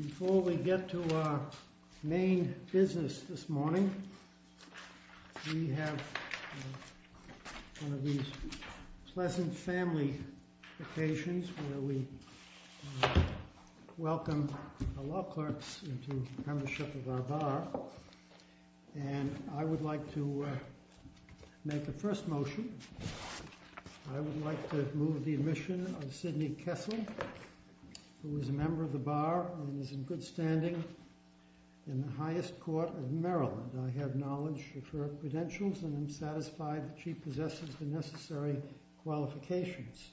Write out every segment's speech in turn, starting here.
Before we get to our main business this morning, we have one of these pleasant family occasions where we welcome the law clerks into the membership of our bar, and I would like to make a first motion. I would like to move the admission of Sidney Kessel, who is a member of the bar and is in good standing in the highest court of Maryland. I have knowledge of her credentials and am satisfied that she possesses the necessary qualifications.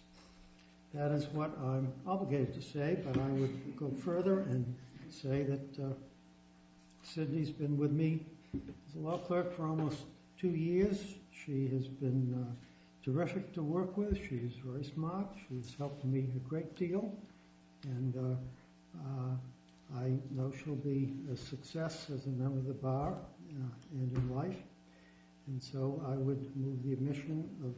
That is what I'm obligated to say, but I would go further and say that Sidney's been with me as a law clerk for almost two years. She has been terrific to work with. She is very smart. She has helped me a great deal, and I know she'll be a success as a member of the bar and in life. And so I would move the admission of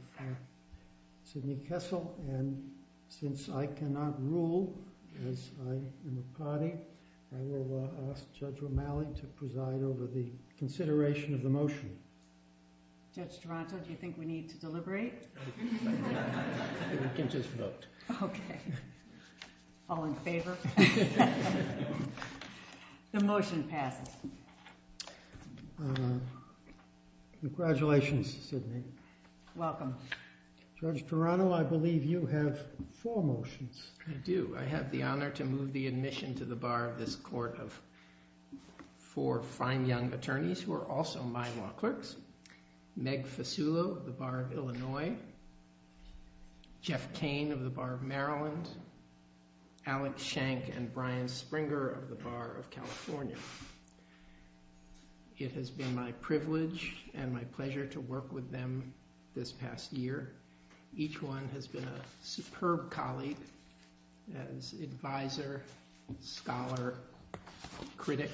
Sidney Kessel, and since I cannot rule as I am a party, I Judge Toronto, do you think we need to deliberate? We can just vote. Okay. All in favor? The motion passes. Congratulations, Sidney. Welcome. Judge Toronto, I believe you have four motions. I do. I have the honor to move the admission to the bar of this court of four fine young attorneys who are also my law clerks, Meg Fasulo of the Bar of Illinois, Jeff Kane of the Bar of Maryland, Alex Shank and Brian Springer of the Bar of California. It has been my privilege and my pleasure to work with them this past year. Each one has been a superb colleague as advisor, scholar, critic,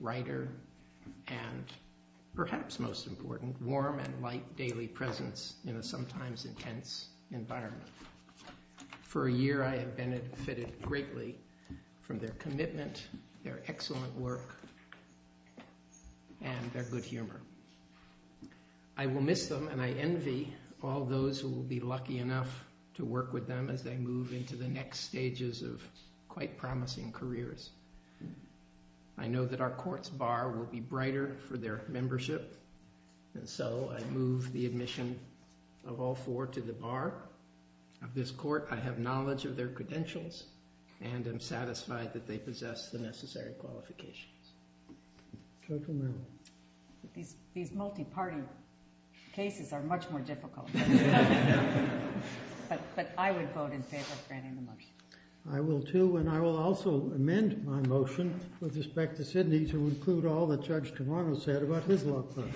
writer, and perhaps most important, warm and light daily presence in a sometimes intense environment. For a year I have benefited greatly from their commitment, their excellent work, and their good humor. I will miss them and I envy all those who will be lucky enough to work with them as they move into the next stages of quite promising careers. I know that our court's bar will be brighter for their membership, and so I move the admission of all four to the bar of this court. I have knowledge of their credentials and am satisfied that they possess the necessary qualifications. Judge O'Mara. These multi-party cases are much more difficult. But I would vote in favor of granting the motion. I will too, and I will also amend my motion with respect to Sidney to include all that Judge Tavano said about his law clerks.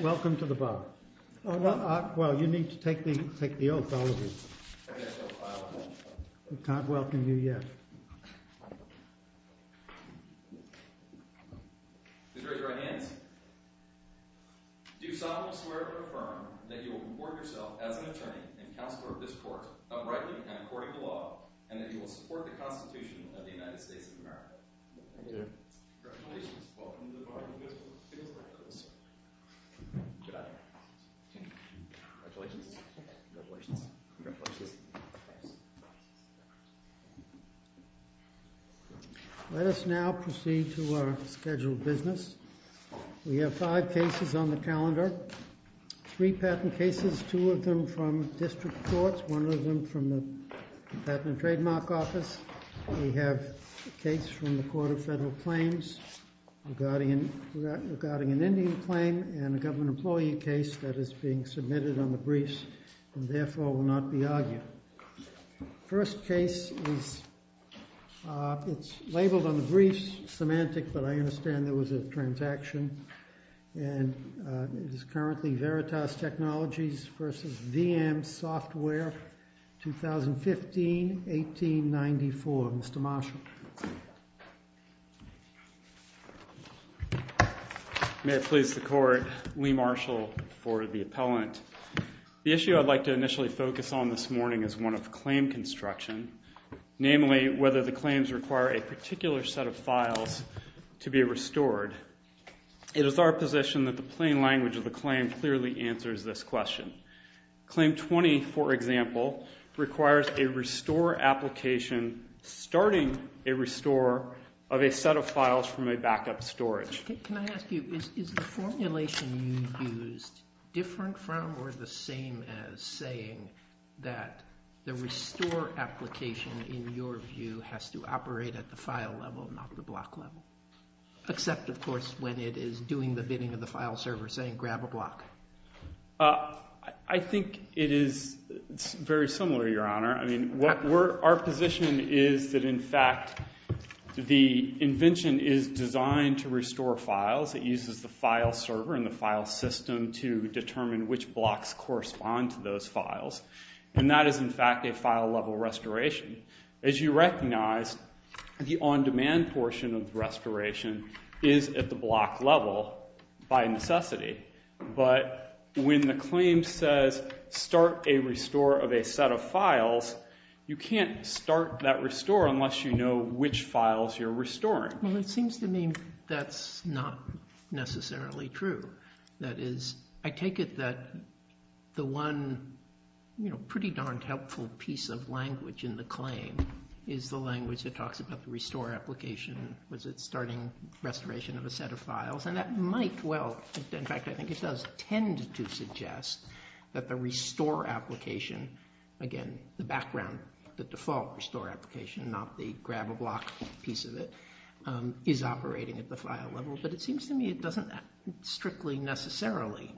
Welcome to the bar. Well, you need to take the oath, all of you. We can't welcome you yet. Please raise your right hands. Do you solemnly swear to affirm that you will comport yourself as an attorney and counselor of this court, uprightly and according to law, and that you will support the Constitution of the United States of America? I do. Congratulations. Welcome to the bar. Congratulations. Congratulations. Congratulations. Congratulations. Congratulations. Let us now proceed to our scheduled business. We have five cases on the calendar, three patent cases, two of them from district courts, one of them from the Patent and Trademark Office. We have a case from the Court of Federal Claims regarding an Indian claim and a government employee case that is being submitted on the briefs and therefore will not be argued. The first case is labeled on the briefs, semantic, but I understand there was a transaction, and it is currently Veritas Technologies v. VM Software, 2015-1894. Mr. Marshall. Thank you. May it please the Court, Lee Marshall for the appellant. The issue I'd like to initially focus on this morning is one of claim construction, namely whether the claims require a particular set of files to be restored. It is our position that the plain language of the claim clearly answers this question. Claim 20, for example, requires a restore application starting a restore of a set of files from a backup storage. Can I ask you, is the formulation you used different from or the same as saying that the restore application, in your view, has to operate at the file level, not the block level? Except, of course, when it is doing the bidding of the file server, saying grab a block. I think it is very similar, Your Honor. Our position is that, in fact, the invention is designed to restore files. It uses the file server and the file system to determine which blocks correspond to those files. And that is, in fact, a file level restoration. As you recognize, the on-demand portion of the restoration is at the block level by necessity. But when the claim says start a restore of a set of files, you can't start that restore unless you know which files you're restoring. Well, it seems to me that's not necessarily true. That is, I take it that the one pretty darned helpful piece of language in the claim is the language that talks about the restore application, was it starting restoration of a set of files. And that might, well, in fact, I think it does tend to suggest that the restore application, again, the background, the default restore application, not the grab a block piece of it, is operating at the file level. But it seems to me it doesn't strictly necessarily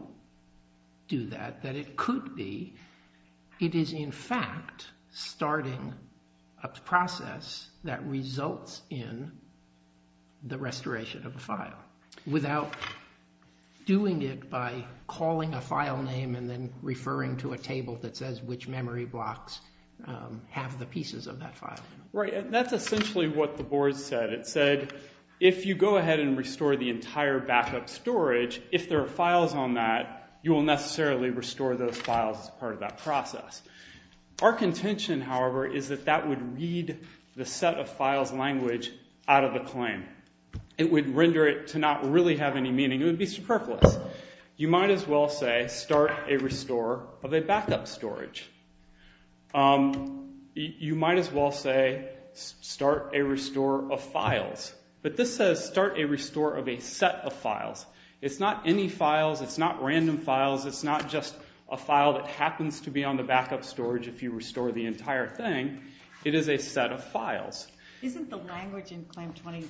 do that. That it could be it is, in fact, starting a process that results in the restoration of a file. Without doing it by calling a file name and then referring to a table that says which memory blocks have the pieces of that file. Right, and that's essentially what the board said. It said if you go ahead and restore the entire backup storage, if there are files on that, you will necessarily restore those files as part of that process. Our contention, however, is that that would read the set of files language out of the claim. It would render it to not really have any meaning. It would be superfluous. You might as well say start a restore of a backup storage. You might as well say start a restore of files. But this says start a restore of a set of files. It's not any files. It's not random files. It's not just a file that happens to be on the backup storage if you restore the entire thing. It is a set of files. Isn't the language in Claim 20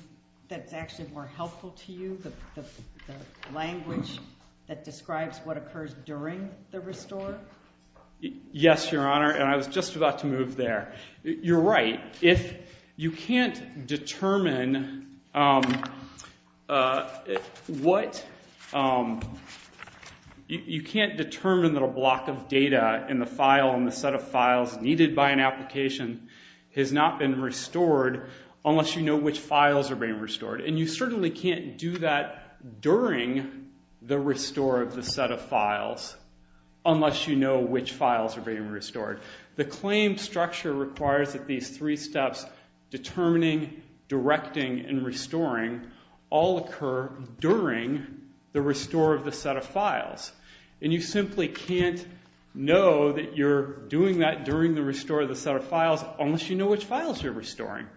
that's actually more helpful to you, the language that describes what occurs during the restore? Yes, Your Honor, and I was just about to move there. You're right. If you can't determine what – you can't determine that a block of data in the file and the set of files needed by an application has not been restored unless you know which files are being restored. And you certainly can't do that during the restore of the set of files unless you know which files are being restored. The claim structure requires that these three steps, determining, directing, and restoring all occur during the restore of the set of files. And you simply can't know that you're doing that during the restore of the set of files unless you know which files you're restoring.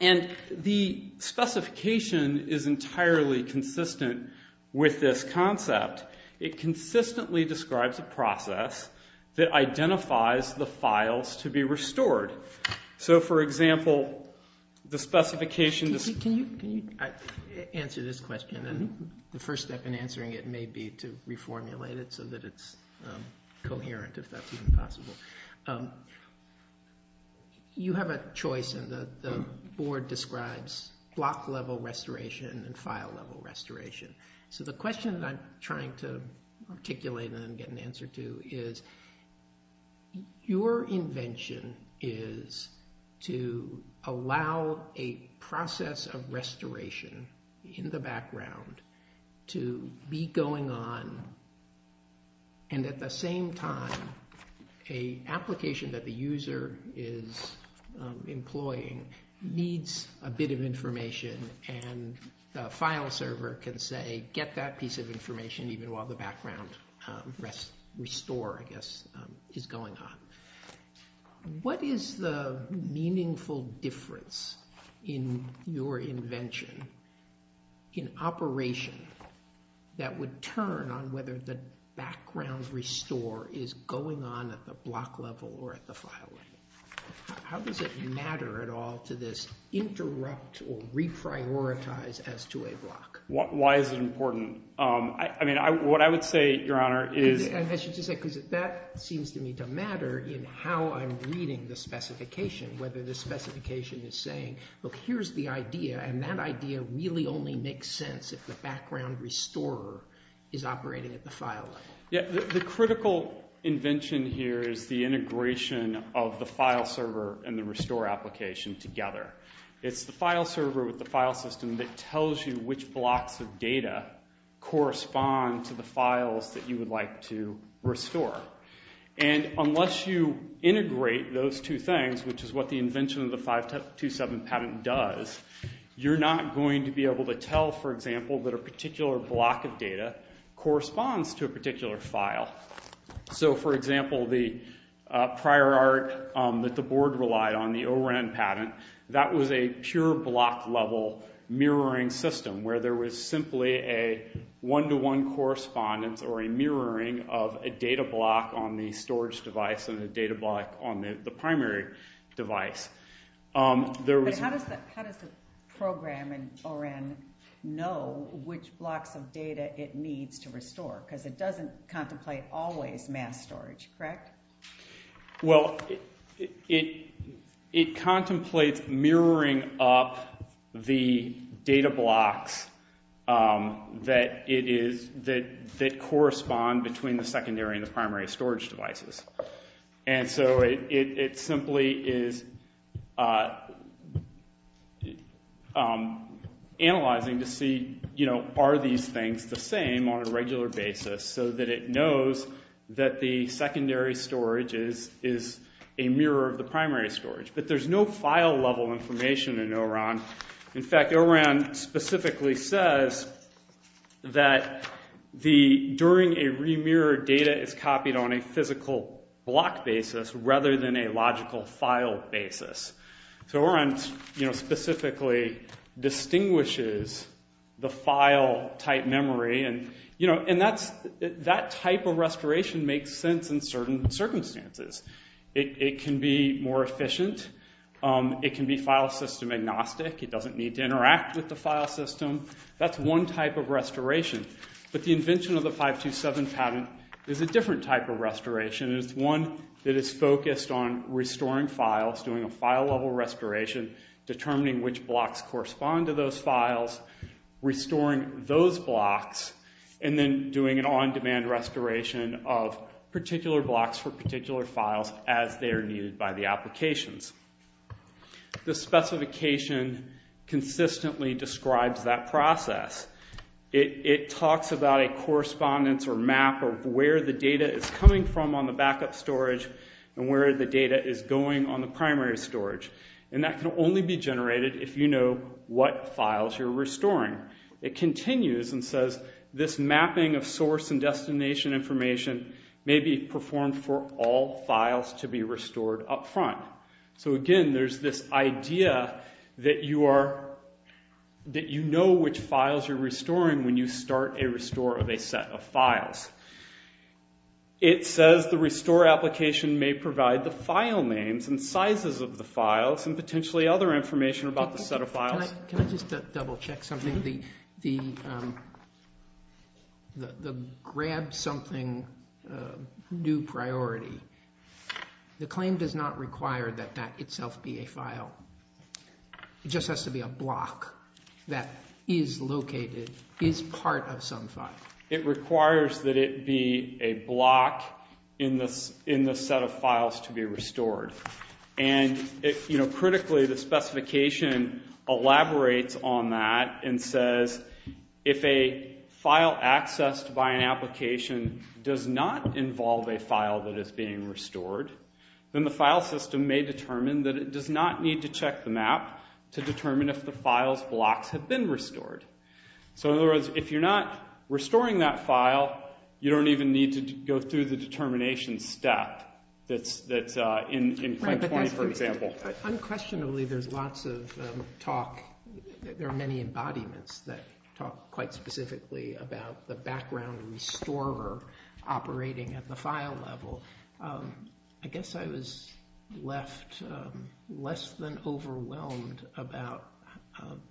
And the specification is entirely consistent with this concept. It consistently describes a process that identifies the files to be restored. So, for example, the specification – Can you answer this question? And the first step in answering it may be to reformulate it so that it's coherent, if that's even possible. You have a choice, and the Board describes block-level restoration and file-level restoration. So the question that I'm trying to articulate and then get an answer to is, your invention is to allow a process of restoration in the background to be going on and at the same time, an application that the user is employing needs a bit of information and the file server can say, get that piece of information even while the background restore, I guess, is going on. What is the meaningful difference in your invention, in operation, that would turn on whether the background restore is going on at the block level or at the file level? How does it matter at all to this interrupt or reprioritize as to a block? Why is it important? I mean, what I would say, Your Honor, is – I should just say, because that seems to me to matter in how I'm reading the specification, whether the specification is saying, look, here's the idea, and that idea really only makes sense if the background restorer is operating at the file level. The critical invention here is the integration of the file server and the restore application together. It's the file server with the file system that tells you which blocks of data correspond to the files that you would like to restore. And unless you integrate those two things, which is what the invention of the 527 patent does, you're not going to be able to tell, for example, that a particular block of data corresponds to a particular file. So, for example, the prior art that the board relied on, the O-RAN patent, that was a pure block-level mirroring system where there was simply a one-to-one correspondence or a mirroring of a data block on the storage device and a data block on the primary device. But how does the program in O-RAN know which blocks of data it needs to restore? Because it doesn't contemplate always mass storage, correct? Well, it contemplates mirroring up the data blocks that correspond between the secondary and the primary storage devices. And so it simply is analyzing to see, you know, are these things the same on a regular basis so that it knows that the secondary storage is a mirror of the primary storage. But there's no file-level information in O-RAN. In fact, O-RAN specifically says that during a remirrored data is copied on a physical block basis rather than a logical file basis. So O-RAN specifically distinguishes the file-type memory. And that type of restoration makes sense in certain circumstances. It can be more efficient. It can be file system agnostic. It doesn't need to interact with the file system. That's one type of restoration. But the invention of the 527 patent is a different type of restoration. It's one that is focused on restoring files, doing a file-level restoration, determining which blocks correspond to those files, restoring those blocks, and then doing an on-demand restoration of particular blocks for particular files as they are needed by the applications. The specification consistently describes that process. It talks about a correspondence or map of where the data is coming from on the backup storage and where the data is going on the primary storage. And that can only be generated if you know what files you're restoring. It continues and says this mapping of source and destination information may be performed for all files to be restored up front. So, again, there's this idea that you know which files you're restoring when you start a restore of a set of files. It says the restore application may provide the file names and sizes of the files and potentially other information about the set of files. Can I just double-check something? The grab something new priority. The claim does not require that that itself be a file. It just has to be a block that is located, is part of some file. It requires that it be a block in the set of files to be restored. And critically, the specification elaborates on that and says if a file accessed by an application does not involve a file that is being restored, then the file system may determine that it does not need to check the map to determine if the file's blocks have been restored. So, in other words, if you're not restoring that file, you don't even need to go through the determination step that's in claim 20, for example. Unquestionably, there's lots of talk. There are many embodiments that talk quite specifically about the background restorer operating at the file level. I guess I was left less than overwhelmed about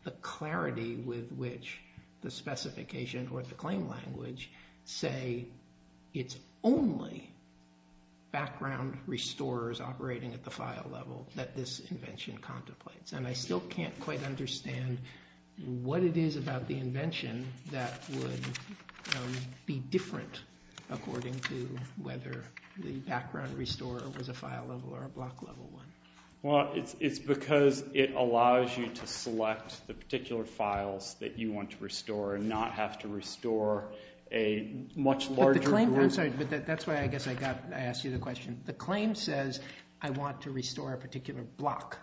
the clarity with which the specification or the claim language say it's only background restorers operating at the file level that this invention contemplates. And I still can't quite understand what it is about the invention that would be different according to whether the background restorer was a file level or a block level one. Well, it's because it allows you to select the particular files that you want to restore and not have to restore a much larger group. I'm sorry, but that's why I guess I asked you the question. The claim says I want to restore a particular block.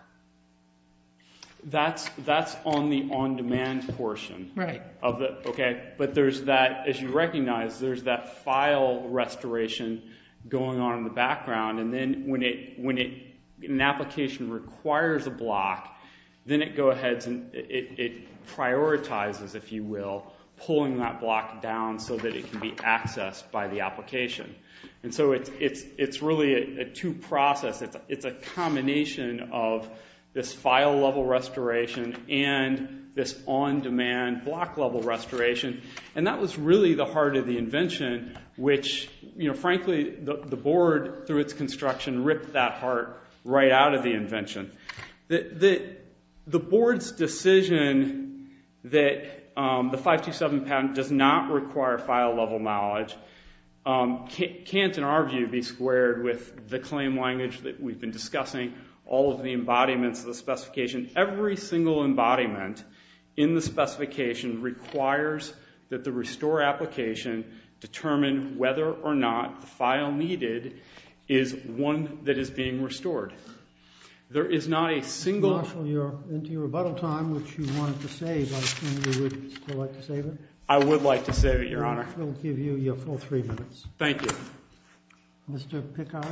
That's on the on-demand portion. Right. Okay. But there's that, as you recognize, there's that file restoration going on in the background. And then when an application requires a block, then it prioritizes, if you will, pulling that block down so that it can be accessed by the application. And so it's really a two-process. It's a combination of this file level restoration and this on-demand block level restoration. And that was really the heart of the invention, which, frankly, the board, through its construction, ripped that heart right out of the invention. The board's decision that the 527 patent does not require file level knowledge can't, in our view, be squared with the claim language that we've been discussing, all of the embodiments of the specification. Every single embodiment in the specification requires that the restore application determine whether or not the file needed is one that is being restored. There is not a single— Marshal, you're into your rebuttal time, which you wanted to save. I assume you would still like to save it. I would like to save it, Your Honor. We'll give you your full three minutes. Thank you. Mr. Pickard?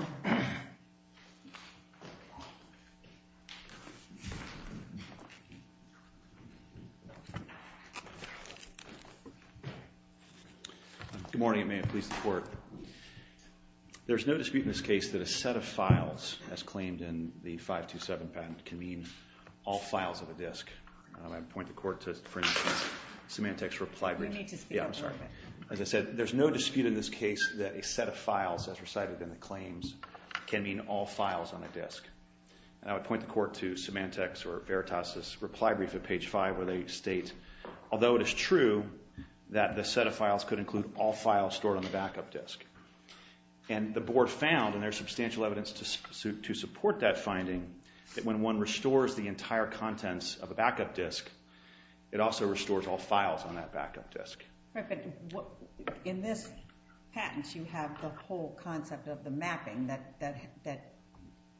Good morning, and may it please the Court. There's no dispute in this case that a set of files, as claimed in the 527 patent, can mean all files of a disk. I would point the Court to, for instance, Symantec's reply brief. You need to speak up. Yeah, I'm sorry. As I said, there's no dispute in this case that a set of files, as recited in the claims, can mean all files on a disk. And I would point the Court to Symantec's or Veritas' reply brief at page 5, where they state, although it is true that the set of files could include all files stored on the backup disk. And the Board found, and there's substantial evidence to support that finding, that when one restores the entire contents of a backup disk, it also restores all files on that backup disk. Right, but in this patent, you have the whole concept of the mapping that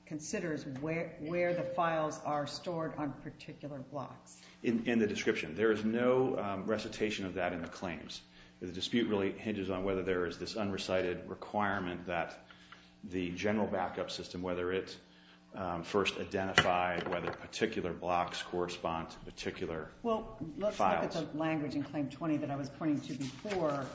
considers where the files are stored on particular blocks. In the description. There is no recitation of that in the claims. The dispute really hinges on whether there is this unrecited requirement that the general backup system, whether it first identified whether particular blocks correspond to particular files. Well, let's look at the language in Claim 20 that I was pointing to before.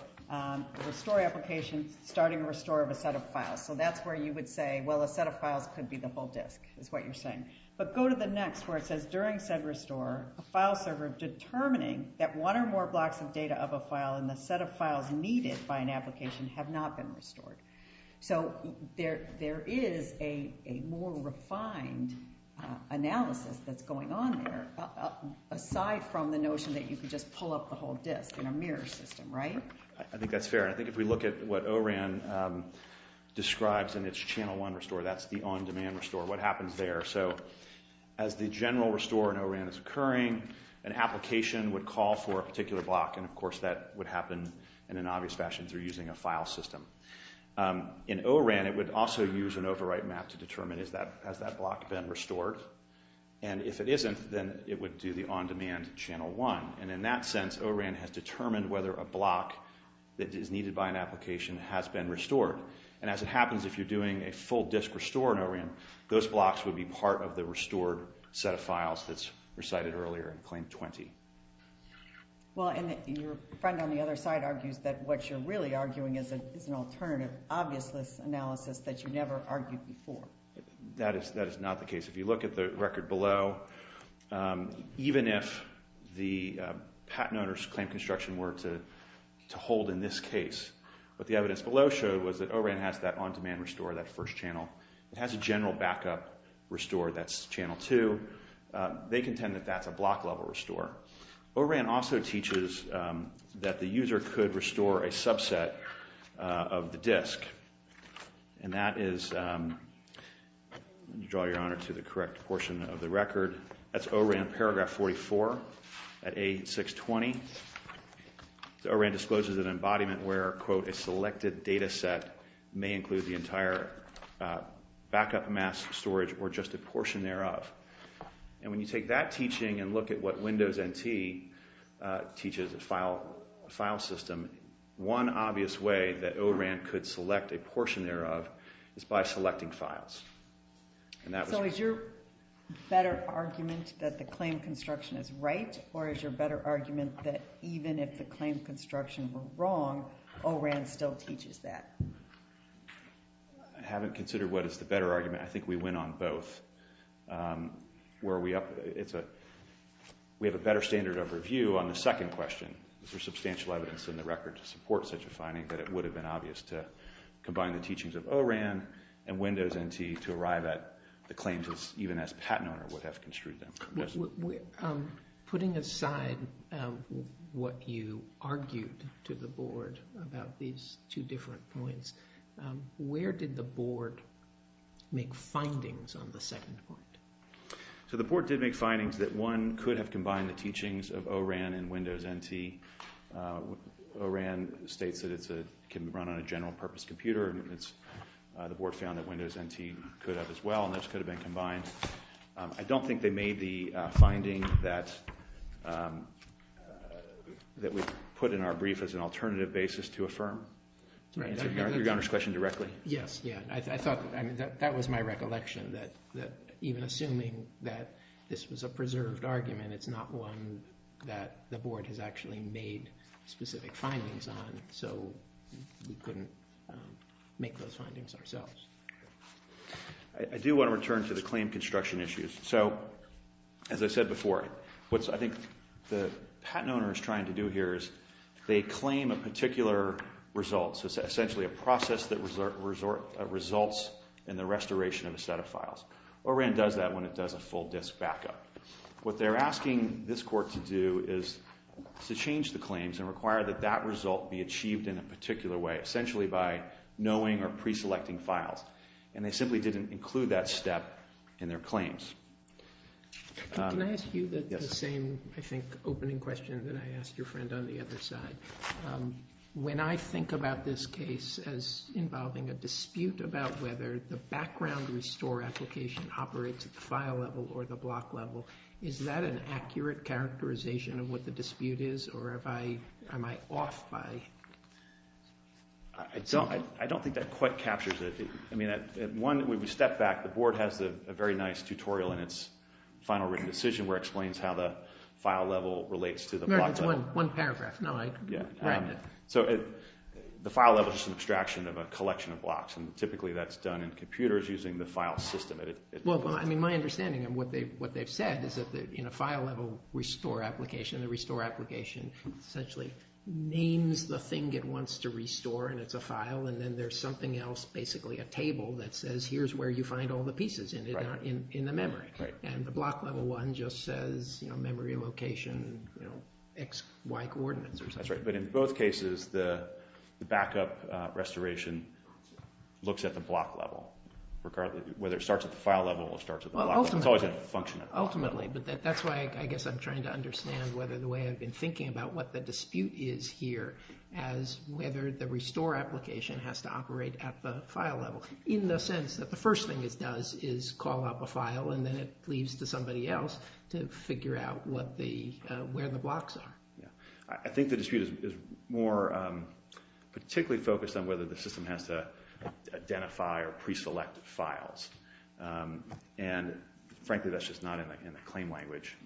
Restore application, starting restore of a set of files. So that's where you would say, well, a set of files could be the whole disk, is what you're saying. But go to the next where it says, during said restore, a file server determining that one or more blocks of data of a file in the set of files needed by an application have not been restored. So there is a more refined analysis that's going on there, aside from the notion that you could just pull up the whole disk in a mirror system, right? I think that's fair. I think if we look at what O-RAN describes in its Channel 1 restore, that's the on-demand restore, what happens there. So as the general restore in O-RAN is occurring, an application would call for a particular block, and of course that would happen in an obvious fashion through using a file system. In O-RAN, it would also use an overwrite map to determine, has that block been restored? And if it isn't, then it would do the on-demand Channel 1. And in that sense, O-RAN has determined whether a block that is needed by an application has been restored. And as it happens, if you're doing a full disk restore in O-RAN, those blocks would be part of the restored set of files that's recited earlier in Claim 20. Well, and your friend on the other side argues that what you're really arguing is an alternative obviousness analysis that you never argued before. That is not the case. If you look at the record below, even if the patent owner's claim construction were to hold in this case, what the evidence below showed was that O-RAN has that on-demand restore, that first channel. It has a general backup restore, that's Channel 2. They contend that that's a block-level restore. O-RAN also teaches that the user could restore a subset of the disk, and that is, let me draw your honor to the correct portion of the record, that's O-RAN paragraph 44 at A620. A selected data set may include the entire backup mass storage or just a portion thereof. And when you take that teaching and look at what Windows NT teaches, the file system, one obvious way that O-RAN could select a portion thereof is by selecting files. So is your better argument that the claim construction is right, or is your better argument that even if the claim construction were wrong, O-RAN still teaches that? I haven't considered what is the better argument. I think we win on both. We have a better standard of review on the second question. There's substantial evidence in the record to support such a finding that it would have been obvious to combine the teachings of O-RAN and Windows NT to arrive at the claims, even as patent owner would have construed them. Putting aside what you argued to the board about these two different points, where did the board make findings on the second point? So the board did make findings that one could have combined the teachings of O-RAN and Windows NT. O-RAN states that it can run on a general purpose computer, and the board found that Windows NT could have as well, and those could have been combined. I don't think they made the finding that we put in our brief as an alternative basis to affirm. To answer your Honor's question directly? Yes. I thought that was my recollection, that even assuming that this was a preserved argument, it's not one that the board has actually made specific findings on, so we couldn't make those findings ourselves. I do want to return to the claim construction issues. So as I said before, what I think the patent owner is trying to do here is they claim a particular result, so essentially a process that results in the restoration of a set of files. O-RAN does that when it does a full disk backup. What they're asking this court to do is to change the claims and require that that result be achieved in a particular way, essentially by knowing or pre-selecting files, and they simply didn't include that step in their claims. Can I ask you the same, I think, opening question that I asked your friend on the other side? When I think about this case as involving a dispute about whether the background restore application operates at the file level or the block level, is that an accurate characterization of what the dispute is, or am I off by something? I don't think that quite captures it. When we step back, the board has a very nice tutorial in its final written decision where it explains how the file level relates to the block level. It's one paragraph. The file level is just an abstraction of a collection of blocks, and typically that's done in computers using the file system. My understanding of what they've said is that in a file level restore application, the restore application essentially names the thing it wants to restore, and it's a file, and then there's something else, basically a table, that says here's where you find all the pieces in the memory, and the block level one just says memory location, x, y coordinates or something. That's right, but in both cases, the backup restoration looks at the block level, whether it starts at the file level or starts at the block level. Ultimately, but that's why I guess I'm trying to understand whether the way I've been thinking about what the dispute is here as whether the restore application has to operate at the file level, in the sense that the first thing it does is call up a file and then it leaves to somebody else to figure out where the blocks are. I think the dispute is more particularly focused on whether the system has to identify or pre-select files. Frankly, that's just not in the claim language.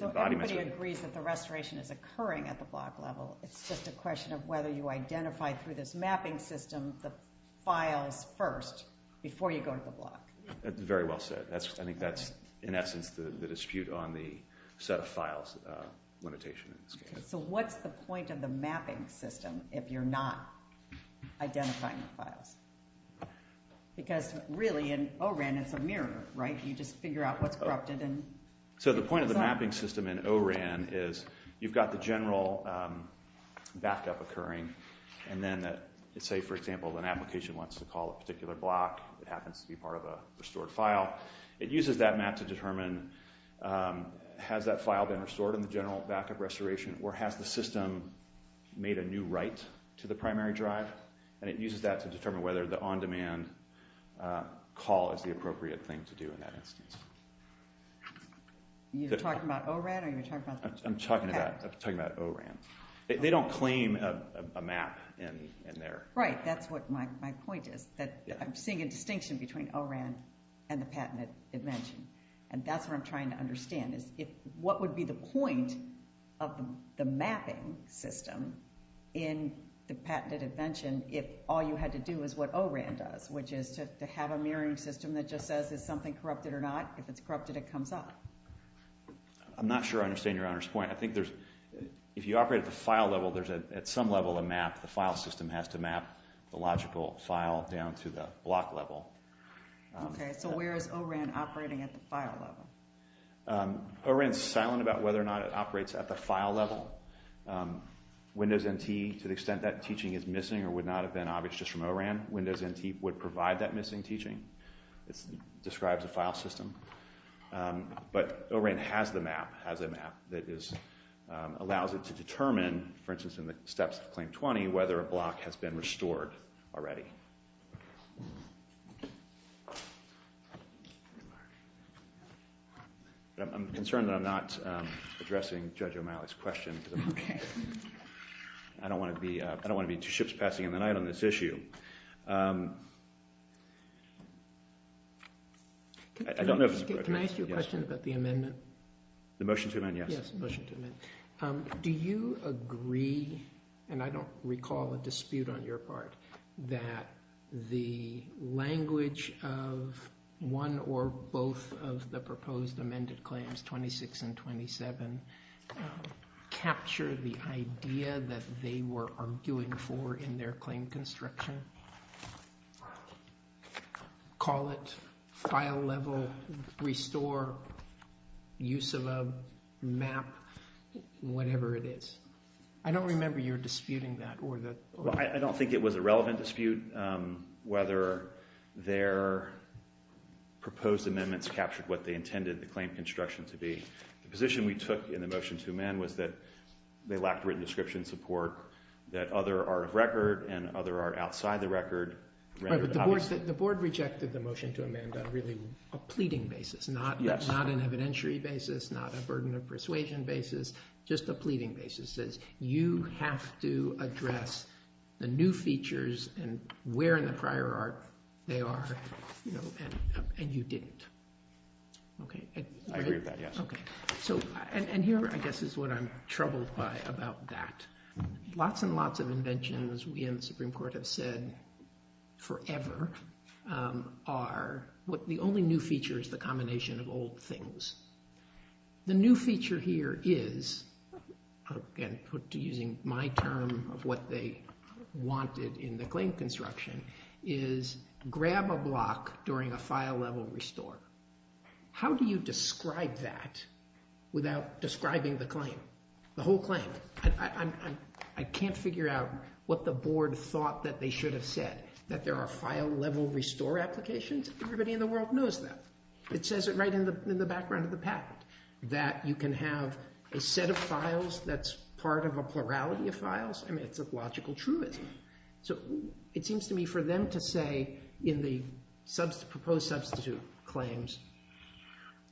Everybody agrees that the restoration is occurring at the block level. It's just a question of whether you identify through this mapping system the files first before you go to the block. That's very well said. I think that's in essence the dispute on the set of files limitation. What's the point of the mapping system if you're not identifying the files? Because really in O-RAN it's a mirror. You just figure out what's corrupted. The point of the mapping system in O-RAN is you've got the general backup occurring. Let's say, for example, an application wants to call a particular block. It happens to be part of a restored file. It uses that map to determine has that file been restored in the general backup restoration or has the system made a new write to the primary drive. It uses that to determine whether the on-demand call is the appropriate thing to do in that instance. Are you talking about O-RAN or are you talking about the patent? I'm talking about O-RAN. They don't claim a map in there. Right, that's what my point is. I'm seeing a distinction between O-RAN and the patented invention. That's what I'm trying to understand. What would be the point of the mapping system in the patented invention if all you had to do is what O-RAN does, which is to have a mirroring system that just says is something corrupted or not? If it's corrupted, it comes up. I'm not sure I understand Your Honor's point. I think if you operate at the file level, there's at some level a map. The file system has to map the logical file down to the block level. Okay, so where is O-RAN operating at the file level? O-RAN is silent about whether or not it operates at the file level. Windows NT, to the extent that teaching is missing or would not have been obvious just from O-RAN, Windows NT would provide that missing teaching. It describes a file system. But O-RAN has the map, has a map that allows it to determine, for instance in the steps of Claim 20, whether a block has been restored already. I'm concerned that I'm not addressing Judge O'Malley's question. Okay. I don't want to be two ships passing in the night on this issue. Can I ask you a question about the amendment? The motion to amend, yes. Yes, the motion to amend. Do you agree, and I don't recall a dispute on your part, that the language of one or both of the proposed amended claims, 26 and 27, captured the idea that they were arguing for in their claim construction? Call it file level, restore, use of a map, whatever it is. I don't remember your disputing that. I don't think it was a relevant dispute, whether their proposed amendments captured what they intended the claim construction to be. The position we took in the motion to amend was that they lacked written description support, that other are of record and other are outside the record. The board rejected the motion to amend on really a pleading basis, not an evidentiary basis, not a burden of persuasion basis, just a pleading basis. It says you have to address the new features and where in the prior art they are, and you didn't. I agree with that, yes. Here, I guess, is what I'm troubled by about that. Lots and lots of inventions we in the Supreme Court have said forever are the only new feature is the combination of old things. The new feature here is, using my term of what they wanted in the claim construction, is grab a block during a file level restore. How do you describe that without describing the claim, the whole claim? I can't figure out what the board thought that they should have said, that there are file level restore applications? Everybody in the world knows that. It says it right in the background of the patent, that you can have a set of files that's part of a plurality of files. It's a logical truism. It seems to me for them to say in the proposed substitute claims,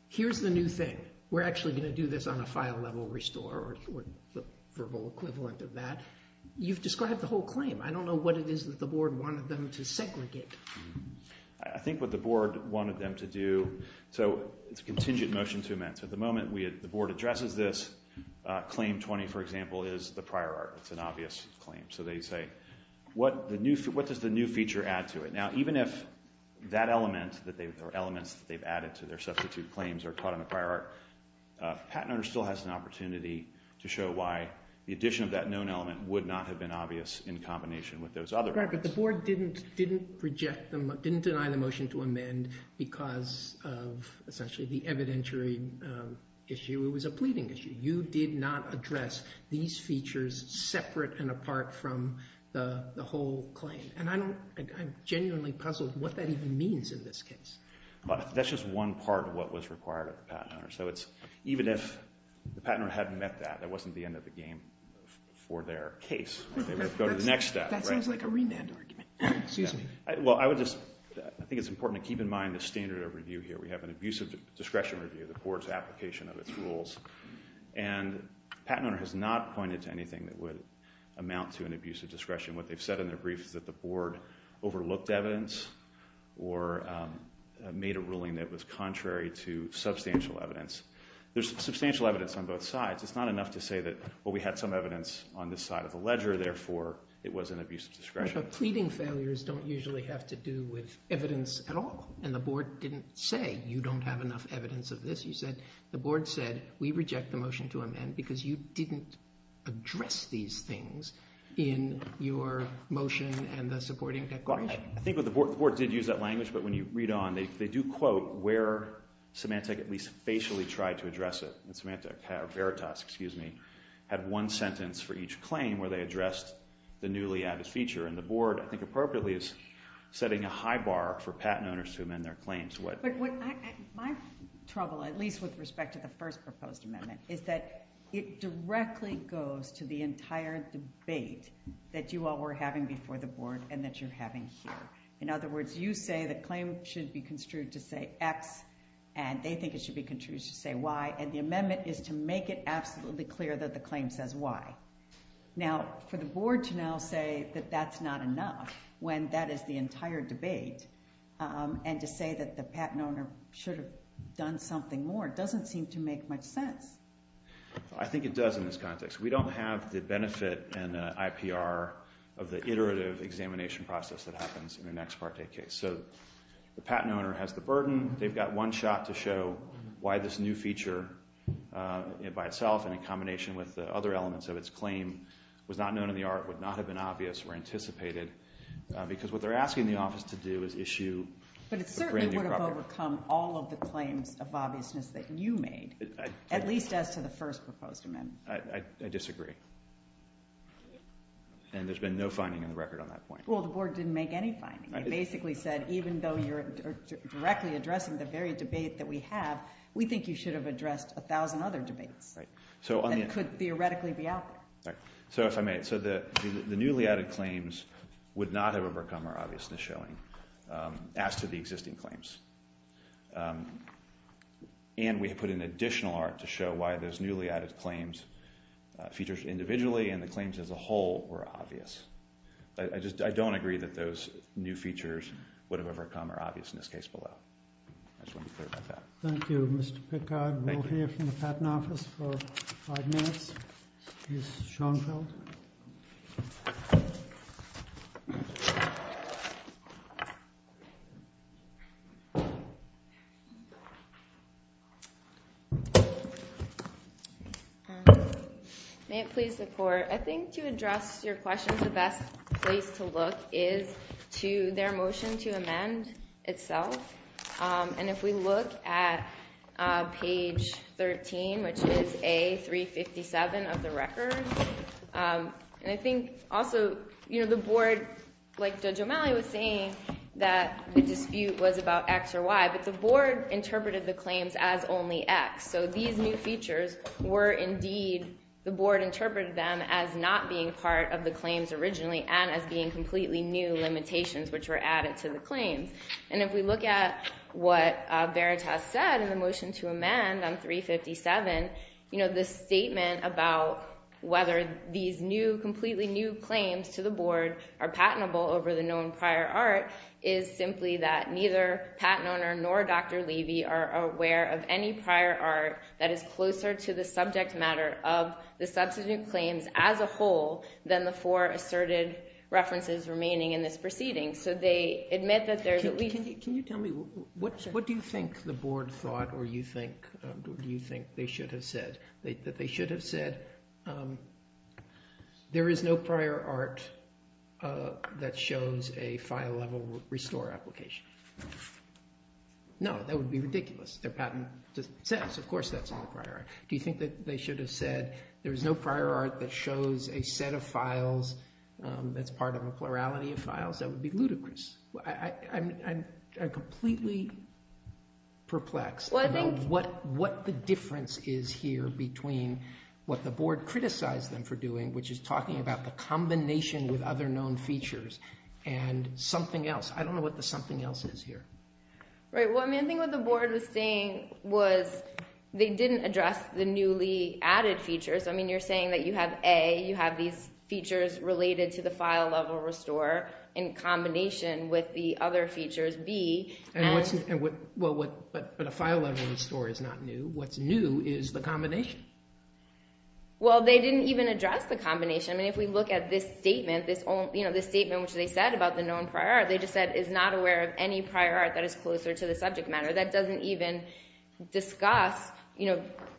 here's the new thing. We're actually going to do this on a file level restore or the verbal equivalent of that. You've described the whole claim. I don't know what it is that the board wanted them to segregate. I think what the board wanted them to do, so it's a contingent motion to amend. So at the moment, the board addresses this claim 20, for example, is the prior art. It's an obvious claim. So they say, what does the new feature add to it? Now, even if that element or elements that they've added to their substitute claims are caught in the prior art, Patent Owner still has an opportunity to show why the addition of that known element would not have been obvious in combination with those other elements. Right, but the board didn't deny the motion to amend because of essentially the evidentiary issue. It was a pleading issue. You did not address these features separate and apart from the whole claim. And I'm genuinely puzzled what that even means in this case. That's just one part of what was required of the Patent Owner. So even if the Patent Owner hadn't met that, that wasn't the end of the game for their case. They would have to go to the next step. That sounds like a remand argument. Excuse me. Well, I think it's important to keep in mind the standard of review here. We have an abusive discretion review, the board's application of its rules, and Patent Owner has not pointed to anything that would amount to an abusive discretion. What they've said in their brief is that the board overlooked evidence or made a ruling that was contrary to substantial evidence. There's substantial evidence on both sides. It's not enough to say that, well, we had some evidence on this side of the ledger, therefore it was an abusive discretion. But pleading failures don't usually have to do with evidence at all, and the board didn't say you don't have enough evidence of this. You said the board said we reject the motion to amend because you didn't address these things in your motion and the supporting declaration. I think the board did use that language, but when you read on, they do quote where Symantec at least facially tried to address it. Symantec, Veritas, excuse me, had one sentence for each claim where they addressed the newly added feature, and the board I think appropriately is setting a high bar for Patent Owners to amend their claims. But my trouble, at least with respect to the first proposed amendment, is that it directly goes to the entire debate that you all were having before the board and that you're having here. In other words, you say the claim should be construed to say X, and they think it should be construed to say Y, and the amendment is to make it absolutely clear that the claim says Y. Now, for the board to now say that that's not enough when that is the entire debate, and to say that the patent owner should have done something more doesn't seem to make much sense. I think it does in this context. We don't have the benefit and the IPR of the iterative examination process that happens in an ex parte case. So the patent owner has the burden. They've got one shot to show why this new feature by itself and in combination with the other elements of its claim was not known in the art, would not have been obvious, were anticipated, because what they're asking the office to do is issue a brand new property. But it certainly would have overcome all of the claims of obviousness that you made, at least as to the first proposed amendment. I disagree. And there's been no finding in the record on that point. Well, the board didn't make any finding. It basically said even though you're directly addressing the very debate that we have, we think you should have addressed 1,000 other debates that could theoretically be out there. So the newly added claims would not have overcome our obviousness showing as to the existing claims. And we have put in additional art to show why those newly added claims features individually and the claims as a whole were obvious. I don't agree that those new features would have overcome our obviousness case below. I just wanted to clarify that. Thank you, Mr. Pickard. We'll hear from the Patent Office for five minutes. Ms. Schoenfeld. May it please the Court. I think to address your question, the best place to look is to their motion to amend itself. And if we look at page 13, which is A357 of the record, and I think also the board, like Judge O'Malley was saying, that the dispute was about X or Y, but the board interpreted the claims as only X. So these new features were indeed, the board interpreted them as not being part of the claims originally and as being completely new limitations, which were added to the claims. And if we look at what Veritas said in the motion to amend on 357, the statement about whether these new, completely new claims to the board are patentable over the known prior art is simply that neither patent owner nor Dr. Levy are aware of any prior art that is closer to the subject matter of the substitute claims as a whole than the four asserted references remaining in this proceeding. So they admit that there's at least... Can you tell me, what do you think the board thought, or do you think they should have said? That they should have said, there is no prior art that shows a file level restore application. No, that would be ridiculous. Their patent doesn't exist. Of course that's not a prior art. Do you think that they should have said, there is no prior art that shows a set of files that's part of a plurality of files? That would be ludicrous. I'm completely perplexed about what the difference is here between what the board criticized them for doing, which is talking about the combination with other known features and something else. I don't know what the something else is here. Right. I think what the board was saying was they didn't address the newly added features. You're saying that you have A, you have these features related to the file level restore in combination with the other features, B. But a file level restore is not new. What's new is the combination. Well, they didn't even address the combination. If we look at this statement, this statement which they said about the known prior art, they just said is not aware of any prior art that is closer to the subject matter. That doesn't even discuss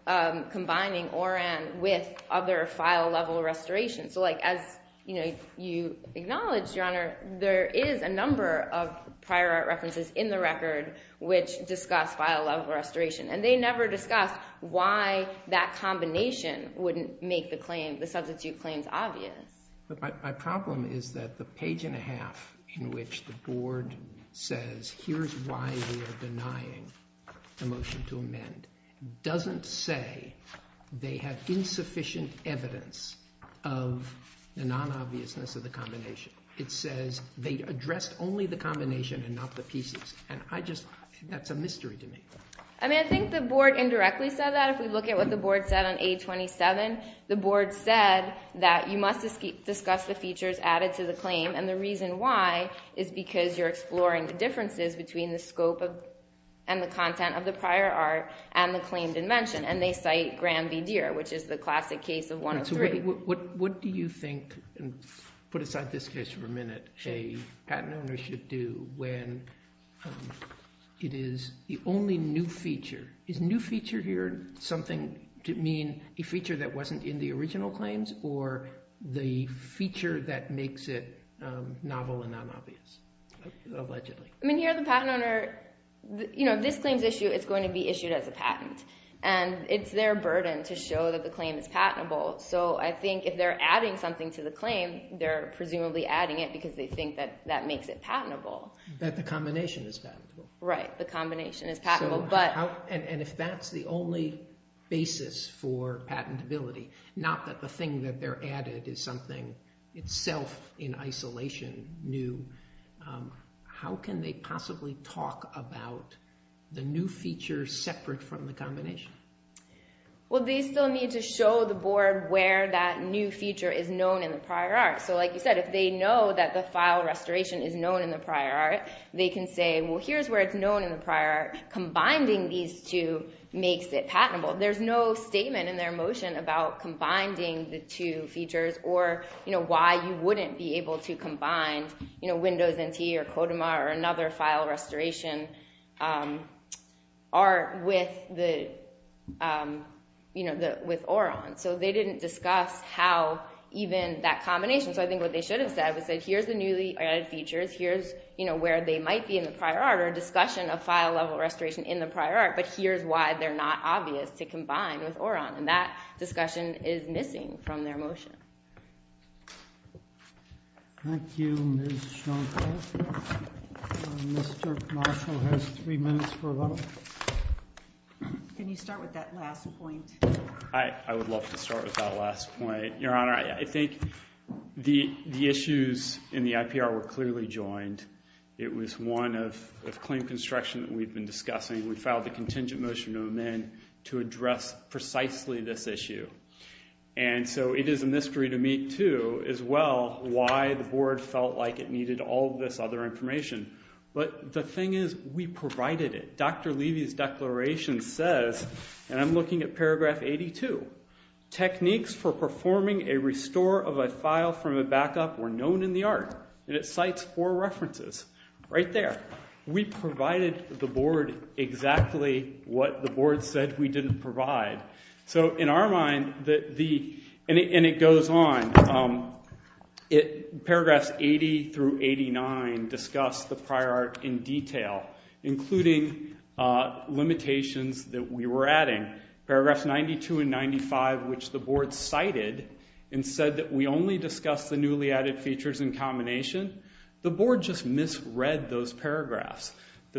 combining ORAN with other file level restorations. As you acknowledge, Your Honor, there is a number of prior art references in the record which discuss file level restoration. They never discussed why that combination wouldn't make the claim, the substitute claims obvious. But my problem is that the page and a half in which the board says, here's why we are denying the motion to amend, doesn't say they have insufficient evidence of the non-obviousness of the combination. It says they addressed only the combination and not the pieces. And I just, that's a mystery to me. I mean, I think the board indirectly said that. If we look at what the board said on A27, the board said that you must discuss the features added to the claim. And the reason why is because you're exploring the differences between the scope and the content of the prior art and the claimed invention. And they cite Graham v. Deere, which is the classic case of 103. What do you think, and put aside this case for a minute, a patent owner should do when it is the only new feature. Is new feature here something to mean a feature that wasn't in the original claims or the feature that makes it novel and non-obvious, allegedly? I mean, here the patent owner, you know, this claim's issue, it's going to be issued as a patent. And it's their burden to show that the claim is patentable. So I think if they're adding something to the claim, they're presumably adding it because they think that that makes it patentable. That the combination is patentable. Right, the combination is patentable. And if that's the only basis for patentability, not that the thing that they're added is something itself in isolation, new, how can they possibly talk about the new feature separate from the combination? Well, they still need to show the board where that new feature is known in the prior art. So like you said, if they know that the file restoration is known in the prior art, they can say, well, here's where it's known in the prior art, combining these two makes it patentable. There's no statement in their motion about combining the two features or, you know, why you wouldn't be able to combine, you know, Windows NT or Kodima or another file restoration art with the, you know, with Oron. So they didn't discuss how even that combination. So I think what they should have said was that here's the newly added features. Here's, you know, where they might be in the prior art or discussion of file level restoration in the prior art, but here's why they're not obvious to combine with Oron. And that discussion is missing from their motion. Thank you, Ms. Shonko. Mr. Marshall has three minutes for a vote. Can you start with that last point? I would love to start with that last point. Your Honor, I think the issues in the IPR were clearly joined. It was one of claim construction that we've been discussing. We filed a contingent motion to amend to address precisely this issue. And so it is a mystery to me, too, as well why the board felt like it needed all this other information. But the thing is, we provided it. Dr. Levy's declaration says, and I'm looking at paragraph 82, techniques for performing a restore of a file from a backup were known in the art. And it cites four references right there. We provided the board exactly what the board said we didn't provide. So in our mind, and it goes on, paragraphs 80 through 89 discuss the prior art in detail, including limitations that we were adding. Paragraphs 92 and 95, which the board cited and said that we only discussed the newly added features in combination, the board just misread those paragraphs.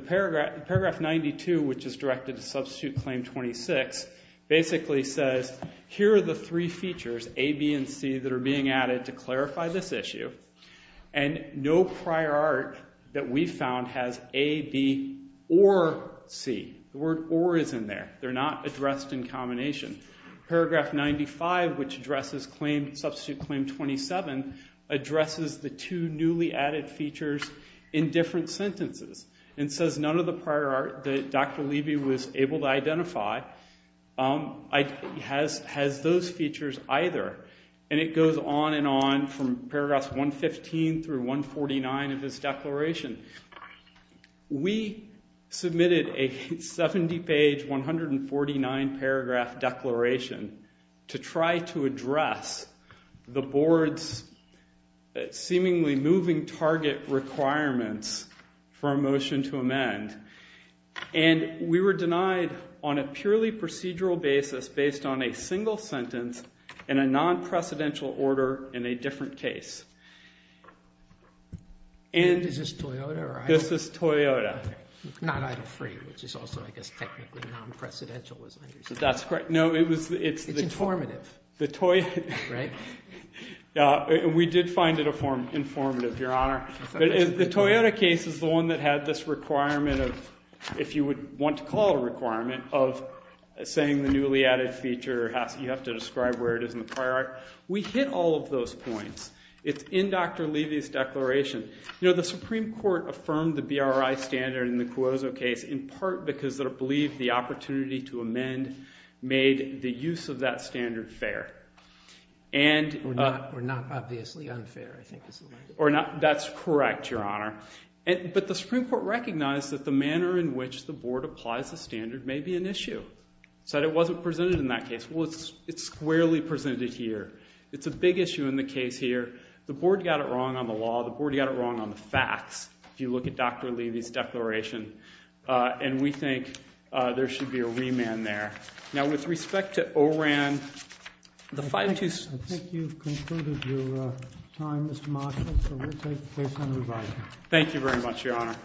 Paragraph 92, which is directed to substitute claim 26, basically says here are the three features, A, B, and C, that are being added to clarify this issue. And no prior art that we found has A, B, or C. The word or is in there. They're not addressed in combination. Paragraph 95, which addresses claim, substitute claim 27, addresses the two newly added features in different sentences. And it says none of the prior art that Dr. Levy was able to identify has those features either. And it goes on and on from paragraphs 115 through 149 of his declaration. We submitted a 70-page, 149-paragraph declaration to try to address the board's seemingly moving target requirements for a motion to amend. And we were denied on a purely procedural basis based on a single sentence and a non-precedential order in a different case. And this is Toyota. Not idle free, which is also, I guess, technically non-precedential. That's correct. It's informative. We did find it informative, Your Honor. But the Toyota case is the one that had this requirement of, if you would want to call it a requirement, of saying the newly added feature, you have to describe where it is in the prior art. We hit all of those points. It's in Dr. Levy's declaration. You know, the Supreme Court affirmed the BRI standard in the Cuozzo case in part because it believed the opportunity to amend made the use of that standard fair. Or not obviously unfair, I think is the word. That's correct, Your Honor. But the Supreme Court recognized that the manner in which the board applies the standard may be an issue. It said it wasn't presented in that case. Well, it's squarely presented here. It's a big issue in the case here. The board got it wrong on the law. The board got it wrong on the facts. If you look at Dr. Levy's declaration. And we think there should be a remand there. Now, with respect to ORAN, the five to six. I think you've concluded your time, Mr. Marshall. So we'll take the case on revising. Thank you very much, Your Honor.